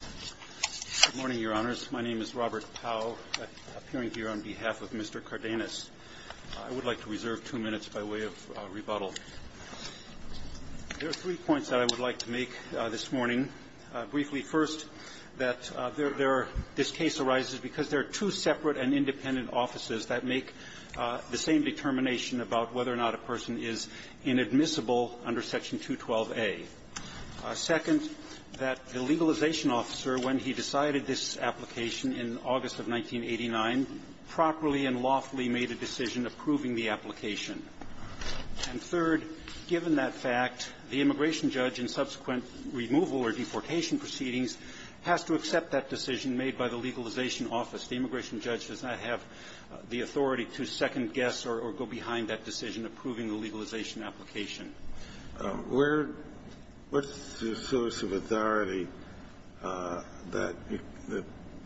Good morning, Your Honors. My name is Robert Pauw, appearing here on behalf of Mr. Cardenas. I would like to reserve two minutes by way of rebuttal. There are three points that I would like to make this morning. Briefly, first, that there are – this case arises because there are two separate and independent offices that make the same determination about whether or not a person is inadmissible under Section 212a. Second, that the legalization officer, when he decided this application in August of 1989, properly and lawfully made a decision approving the application. And third, given that fact, the immigration judge in subsequent removal or deportation proceedings has to accept that decision made by the legalization office. The immigration judge does not have the authority to second-guess or go behind that decision approving the legalization application. Kennedy. What's the source of authority that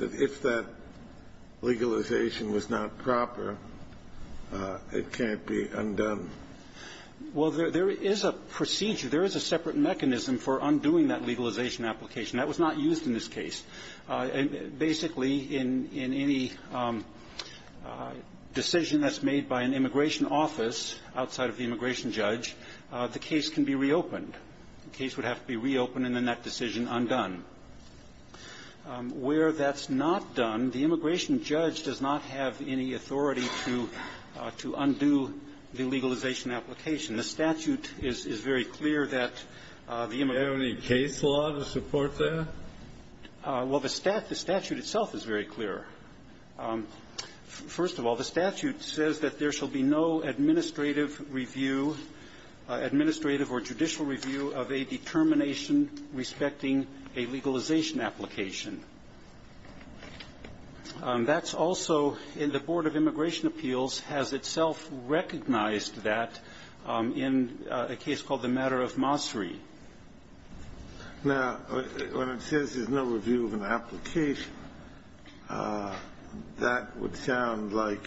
if that legalization was not proper, it can't be undone? Well, there is a procedure. There is a separate mechanism for undoing that legalization application. That was not used in this case. Basically, in any decision that's made by an immigration office outside of the immigration judge, the case can be reopened. The case would have to be reopened and, in that decision, undone. Where that's not done, the immigration judge does not have any authority to undo the legalization application. The statute is very clear that the immigration judge can't do that. Do you have any case law to support that? Well, the statute itself is very clear. First of all, the statute says that there shall be no administrative review, administrative or judicial review, of a determination respecting a legalization application. That's also in the Board of Immigration Appeals has itself recognized that in a case called the matter of Mossery. Now, when it says there's no review of an application, that would sound like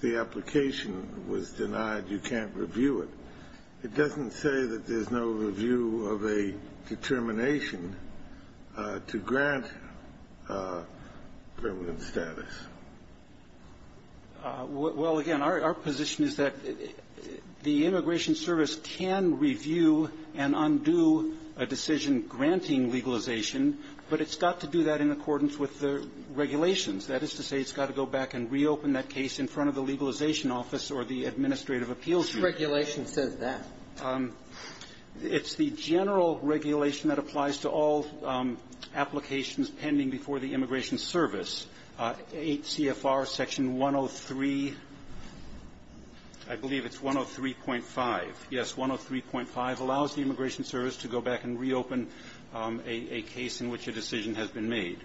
the application was denied, you can't review it. It doesn't say that there's no review of a determination to grant permanent status. Well, again, our position is that the Immigration Service can review and undo a decision granting legalization, but it's got to do that in accordance with the regulations. That is to say, it's got to go back and reopen that case in front of the legalization office or the Administrative Appeals. What regulation says that? It's the general regulation that applies to all applications pending before the Immigration Service, 8 CFR Section 103, I believe it's 103.5. Yes, 103.5 allows the Immigration Service to go back and reopen a case in which a decision has been made.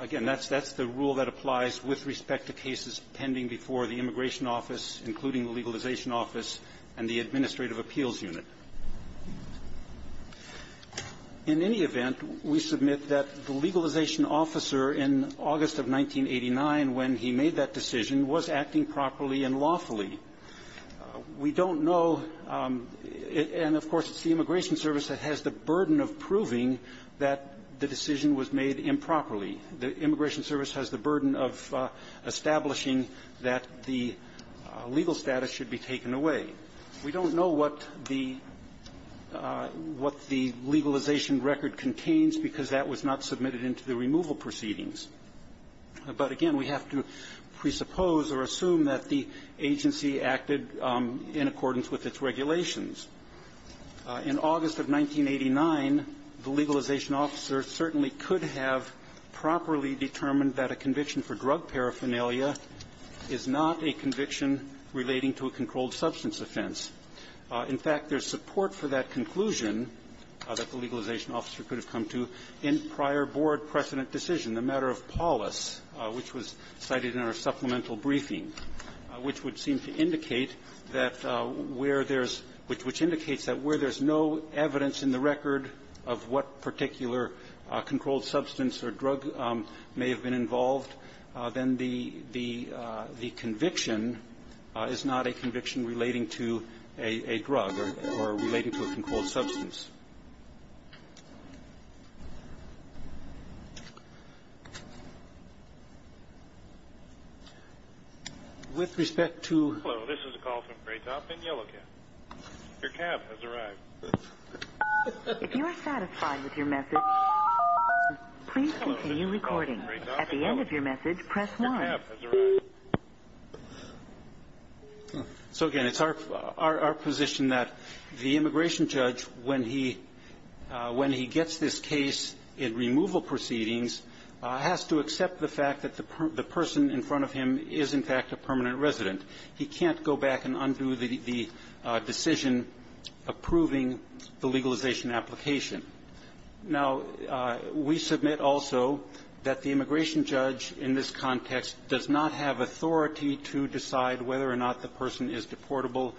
Again, that's the rule that applies with respect to cases pending before the Immigration Office, including the Legalization Office and the Administrative Appeals Unit. In any event, we submit that the legalization officer in August of 1989, when he made that decision, was acting properly and lawfully. We don't know, and of course, it's the Immigration Service that has the burden of proving that the decision was made improperly. The Immigration Service has the burden of establishing that the legal status should be taken away. We don't know what the legalization record contains because that was not submitted into the removal proceedings. But again, we have to presuppose or assume that the agency acted in accordance with its regulations. In August of 1989, the legalization officer certainly could have properly determined that a conviction for drug paraphernalia is not a conviction relating to a controlled substance offense. In fact, there's support for that conclusion that the legalization officer could have come to in prior Board precedent decision, the matter of Paulus, which was cited in our supplemental briefing, which would seem to indicate that where there's no evidence in the record of what particular controlled substance or drug may have been involved, then the conviction is not a conviction relating to a drug or relating to a controlled substance. With respect to... Hello, this is a call from Graytop in Yellow Cab. Your cab has arrived. If you are satisfied with your message, please continue recording. At the end of your message, press 1. Your cab has arrived. So, again, it's our position that the immigration judge, when he gets this case in removal proceedings, has to accept the fact that the person in front of him is, in fact, a permanent resident. He can't go back and undo the decision approving the legalization application. Now, we submit also that the immigration judge in this context does not have authority to decide whether or not the person is deportable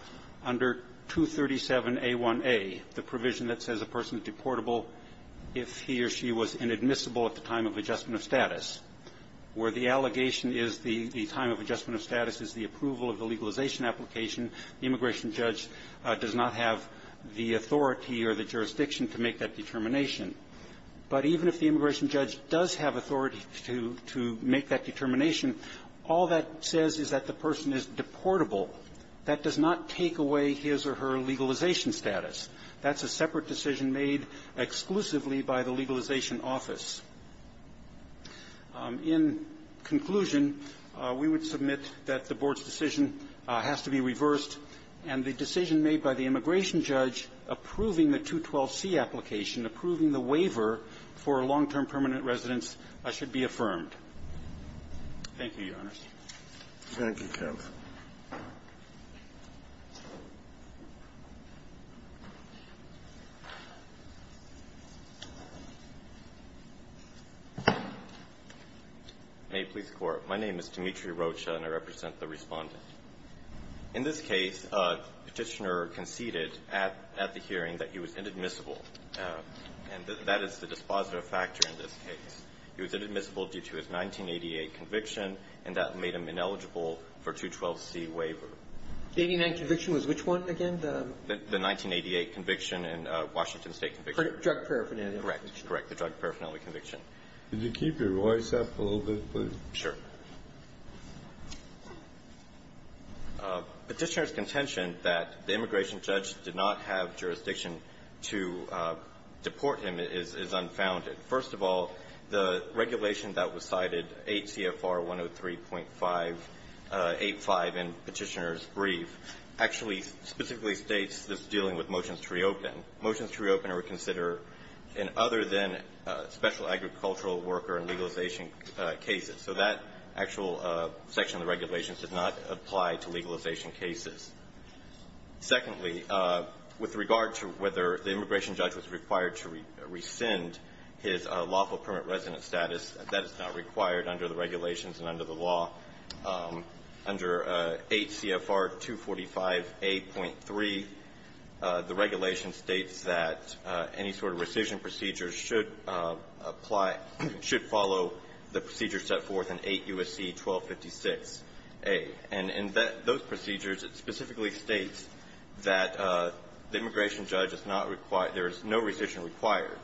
under 237a1a, the provision that says a person is deportable if he or she was inadmissible at the time of adjustment of status, where the allegation is the time of adjustment of status is the approval of the legalization application. The immigration judge does not have the authority or the jurisdiction to make that determination. But even if the immigration judge does have authority to make that determination, all that says is that the person is deportable. That does not take away his or her legalization status. That's a separate decision made exclusively by the legalization office. In conclusion, we would submit that the Board's decision has to be reversed, and the decision made by the immigration judge approving the 212c application, approving the waiver for a long-term permanent residence, should be affirmed. Thank you, Your Honors. Thank you, counsel. May it please the Court. My name is Dimitri Rocha, and I represent the Respondent. In this case, Petitioner conceded at the hearing that he was inadmissible, and that is the dispositive factor in this case. He was inadmissible due to his 1988 conviction, and that made him ineligible for 212c waiver. The 1989 conviction was which one again? The 1988 conviction and Washington State conviction. Drug paraphernalia. Correct. Correct. The drug paraphernalia conviction. Could you keep your voice up a little bit, please? Sure. Petitioner's contention that the immigration judge did not have jurisdiction to deport him is unfounded. First of all, the regulation that was cited, 8 CFR 103.85 in Petitioner's brief, actually specifically states this dealing with motions to reopen. Motions to reopen are considered in other than special agricultural worker and legalization cases. So that actual section of the regulation does not apply to legalization cases. Secondly, with regard to whether the immigration judge was required to rescind his lawful permanent residence status, that is not required under the regulations and under the law. Under 8 CFR 245a.3, the regulation states that any sort of rescission procedure should apply – should follow the procedure set forth in 8 U.S.C. 1256a. And in those procedures, it specifically states that the immigration judge is not required – there is no rescission required.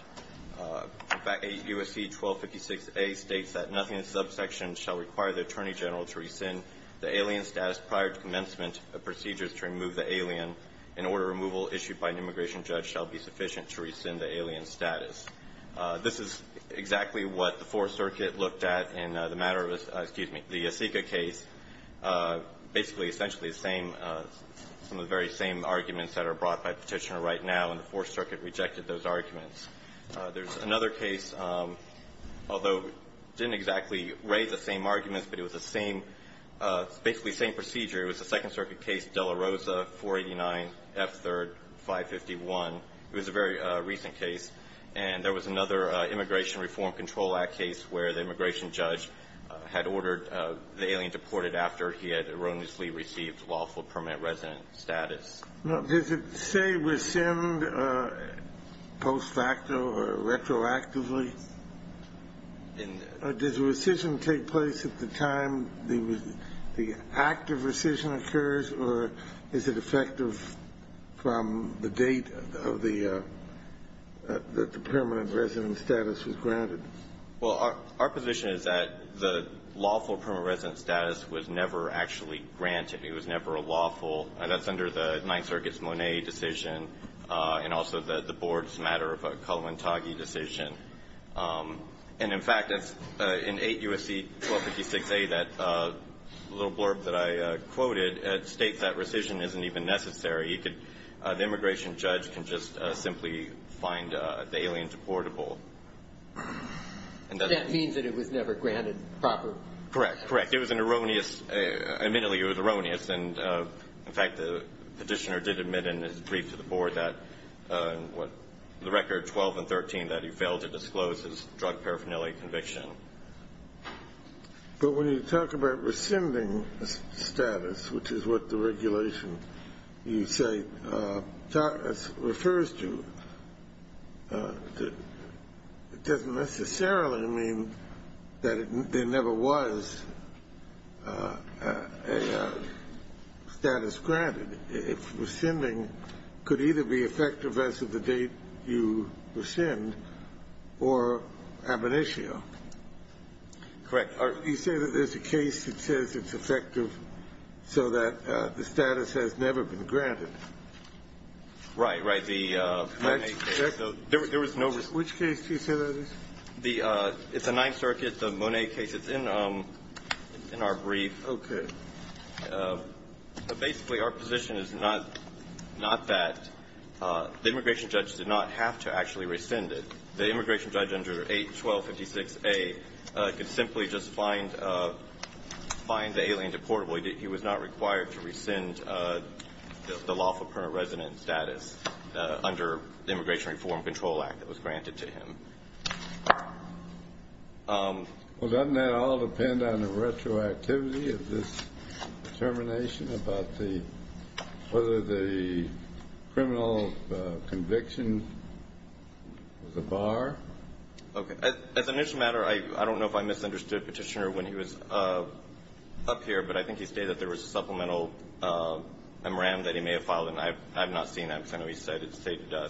In fact, 8 U.S.C. 1256a states that nothing in the subsection shall require the Attorney General to rescind the alien status prior to commencement of procedures to remove the alien in order removal issued by an immigration judge shall be sufficient to rescind the alien status. This is exactly what the Fourth Circuit looked at in the matter of – excuse me – the Yacica case. Basically, essentially the same – some of the very same arguments that are brought by Petitioner right now, and the Fourth Circuit rejected those arguments. There's another case, although didn't exactly raise the same arguments, but it was the same – basically the same procedure. It was a Second Circuit case, Dela Rosa 489 F. 3rd 551. It was a very recent case. And there was another Immigration Reform Control Act case where the immigration judge had ordered the alien deported after he had erroneously received lawful permanent resident status. Now, does it say rescind post facto or retroactively? Does rescission take place at the time the act of rescission occurs, or is it effective from the date of the – that the permanent resident status was granted? Well, our position is that the lawful permanent resident status was never actually granted. It was never lawful. That's under the Ninth Circuit's Monet decision, and also the Board's matter of a Kaluantagi decision. And, in fact, that's in 8 U.S.C. 1256a, that little blurb that I quoted states that rescission isn't even necessary. You could – the immigration judge can just simply find the alien deportable. And that means that it was never granted proper – Correct. Correct. It was an erroneous – admittedly, it was erroneous. And, in fact, the petitioner did admit in his brief to the Board that – the record 12 and 13 that he failed to disclose his drug paraphernalia conviction. But when you talk about rescinding status, which is what the regulation, you say, refers to, it doesn't necessarily mean that there never was a status granted. If rescinding could either be effective as of the date you rescind or ab initio. Correct. Or you say that there's a case that says it's effective so that the status has never been granted. Right. Right. The Mone case. There was no – Which case do you say that is? The – it's a Ninth Circuit, the Mone case. It's in our brief. Okay. But basically, our position is not that – the immigration judge did not have to actually rescind it. The immigration judge under 81256a could simply just find the alien deportable. He was not required to rescind the lawful permanent resident status under the Immigration Reform Control Act that was granted to him. Well, doesn't that all depend on the retroactivity of this determination about the – whether the criminal conviction was a bar? Okay. As an issue of matter, I don't know if I misunderstood Petitioner when he was up here, but I think he stated that there was a supplemental memorandum that he may have filed, and I have not seen that because I know he stated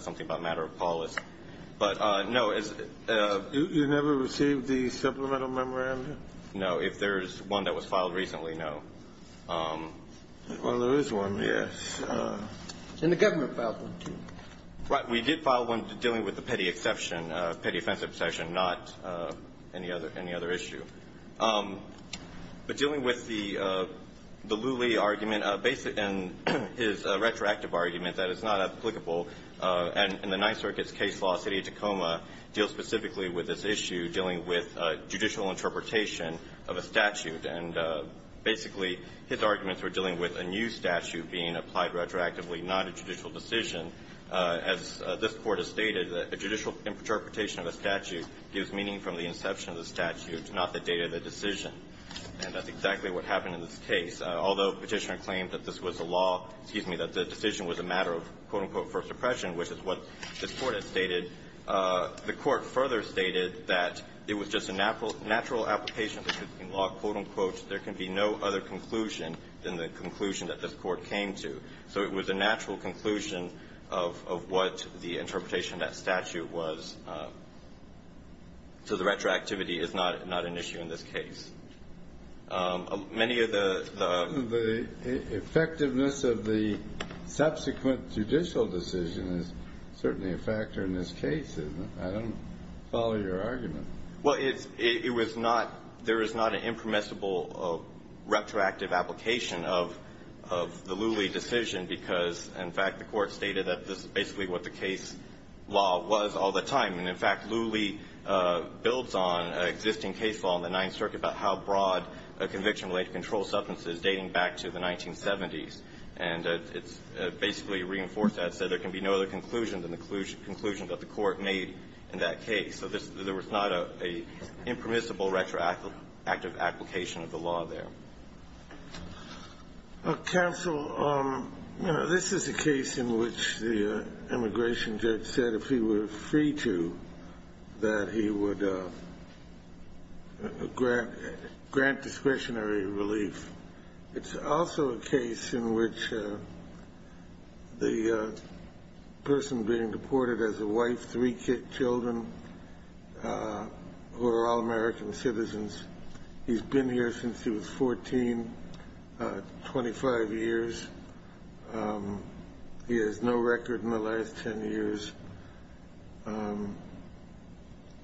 something about matter of policy. But, no, as – You never received the supplemental memorandum? No. If there's one that was filed recently, no. Well, there is one, yes. And the government filed one, too. Right. We did file one dealing with the Petty Exception, Petty Offensive Exception, not any other issue. But dealing with the Lulee argument, based on his retroactive argument that it's not applicable, and the Ninth Circuit's case law, City of Tacoma, deals specifically with this issue dealing with judicial interpretation of a statute. And basically, his arguments were dealing with a new statute being applied retroactively, not a judicial decision. As this Court has stated, a judicial interpretation of a statute gives meaning from the inception of the statute, not the date of the decision. And that's exactly what happened in this case. Although Petitioner claimed that this was a law – excuse me – that the decision was a matter of, quote-unquote, first suppression, which is what this Court has stated, the Court further stated that it was just a natural – natural application of the 15 law, quote-unquote. There can be no other conclusion than the conclusion that this Court came to. So it was a natural conclusion of what the interpretation of that statute was. So the retroactivity is not an issue in this case. Many of the – The effectiveness of the subsequent judicial decision is certainly a factor in this case. I don't follow your argument. Well, it's – it was not – there is not an impermissible retroactive application of – of the Lulee decision, because, in fact, the Court stated that this is basically what the case law was all the time. And, in fact, Lulee builds on an existing case law in the Ninth Circuit about how broad a conviction-related control substance is, dating back to the 1970s. And it's basically reinforced that, so there can be no other conclusion than the conclusion that the Court made in that case. So there was not an impermissible retroactive application of the law there. Counsel, this is a case in which the immigration judge said if he were free to, that he would grant discretionary relief. It's also a case in which the person being deported has a wife, three children, who are all American citizens. He's been here since he was 14, 25 years. He has no record in the last 10 years.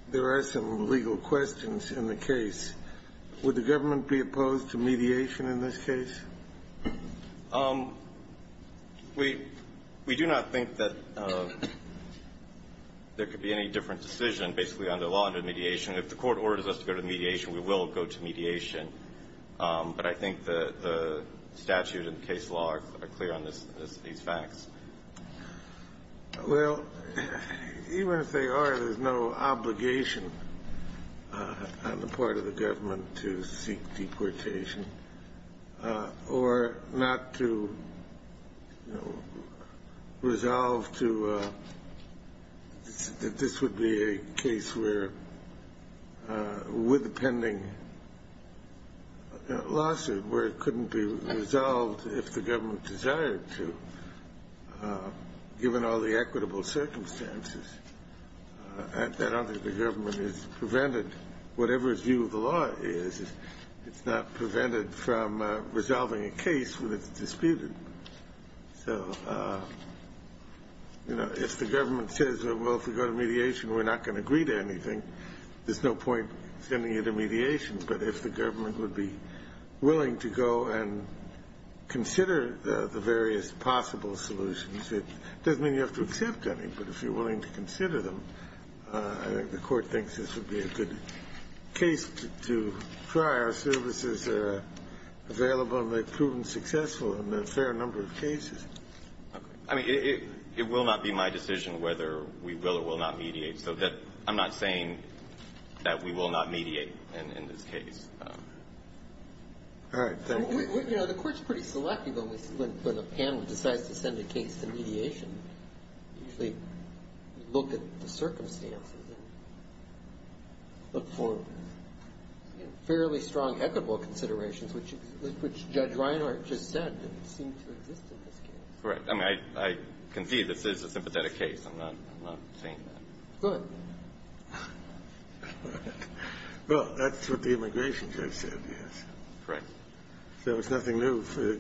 There are some legal questions in the case. Would the government be opposed to mediation in this case? We – we do not think that there could be any different decision, basically, under law under mediation. If the Court orders us to go to mediation, we will go to mediation. But I think the statute and case law are clear on these facts. Well, even if they are, there's no obligation on the part of the government to seek deportation or not to, you know, resolve to – this would be a case where, with the pending lawsuit, where it couldn't be resolved if the government desired to, given all the equitable circumstances. I don't think the government is prevented. Whatever its view of the law is, it's not prevented from resolving a case when it's disputed. So, you know, if the government says, well, if we go to mediation, we're not going to agree to anything, there's no point sending it to mediation. But if the government would be willing to go and consider the various possible solutions, it doesn't mean you have to accept any. But if you're willing to consider them, I think the Court thinks this would be a good case to try. Our services are available, and they've proven successful in a fair number of cases. Okay. I mean, it will not be my decision whether we will or will not mediate, so that I'm not saying that we will not mediate in this case. All right. Thank you. Well, you know, the Court's pretty selective when the panel decides to send a case to mediation. They look at the circumstances and look for fairly strong equitable considerations, which Judge Reinhart just said seem to exist in this case. Right. I mean, I can see this is a sympathetic case. I'm not saying that. Go ahead. Well, that's what the immigration judge said, yes. Correct. So it's nothing new for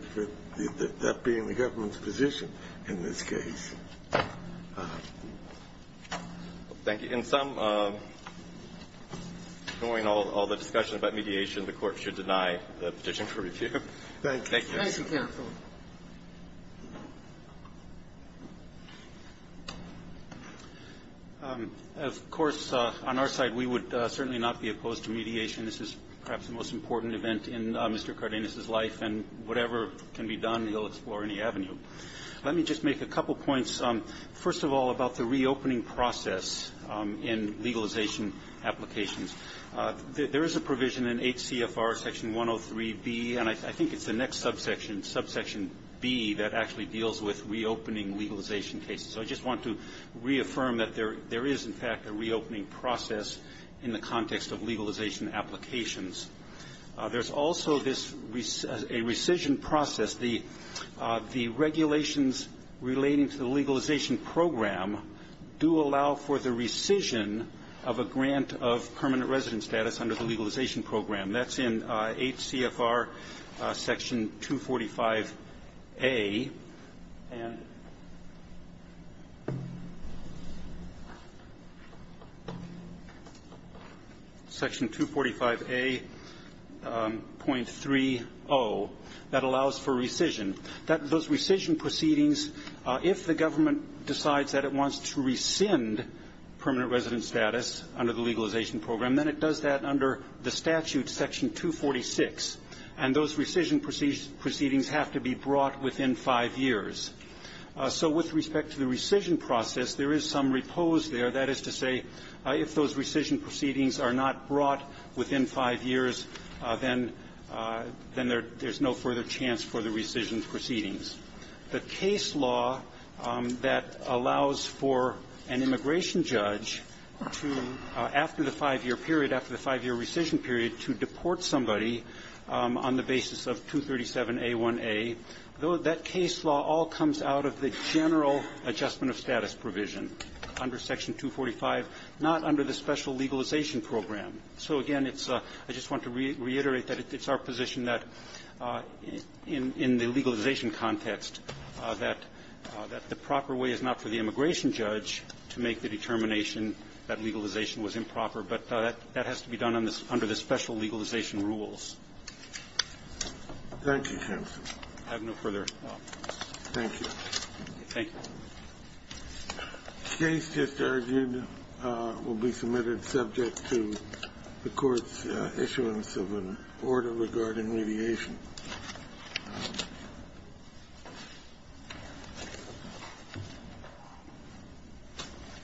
that being the government's position in this case. Thank you. In sum, knowing all the discussion about mediation, the Court should deny the petition for review. Thank you. Thank you, counsel. Of course, on our side, we would certainly not be opposed to mediation. This is perhaps the most important event in Mr. Cardenas's life, and whatever can be done, he'll explore any avenue. Let me just make a couple points, first of all, about the reopening process in legalization applications. There is a provision in 8 CFR section 103B, and I think it's the next subsection, subsection B, that actually deals with reopening legalization cases. So I just want to reaffirm that there is, in fact, a reopening process in the context of legalization applications. There's also a rescission process. The regulations relating to the legalization program do allow for the rescission of a grant of permanent resident status under the legalization program. That's in 8 CFR section 245A and section 245A.30. That allows for rescission. Those rescission proceedings, if the government decides that it wants to rescind permanent resident status under the legalization program, then it does that under the statute, section 246. And those rescission proceedings have to be brought within five years. So with respect to the rescission process, there is some repose there. That is to say, if those rescission proceedings are not brought within five years, then there's no further chance for the rescission proceedings. The case law that allows for an immigration judge to, after the five-year period, after the five-year rescission period, to deport somebody on the basis of 237A1A, though that case law all comes out of the general adjustment of status provision under section 245, not under the special legalization program. So, again, it's a – I just want to reiterate that it's our position that in the legalization context that the proper way is not for the immigration judge to make the determination that legalization was improper. But that has to be done under the special legalization rules. Thank you, counsel. I have no further comments. Thank you. Thank you. The case just argued will be submitted subject to the Court's issuance of an order regarding mediation.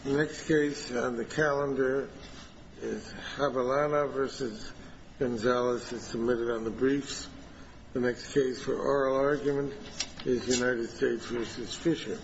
The next case on the calendar is Javelina v. Gonzalez. It's submitted on the briefs. The next case for oral argument is United States v. Fisher. Thank you. Thank you.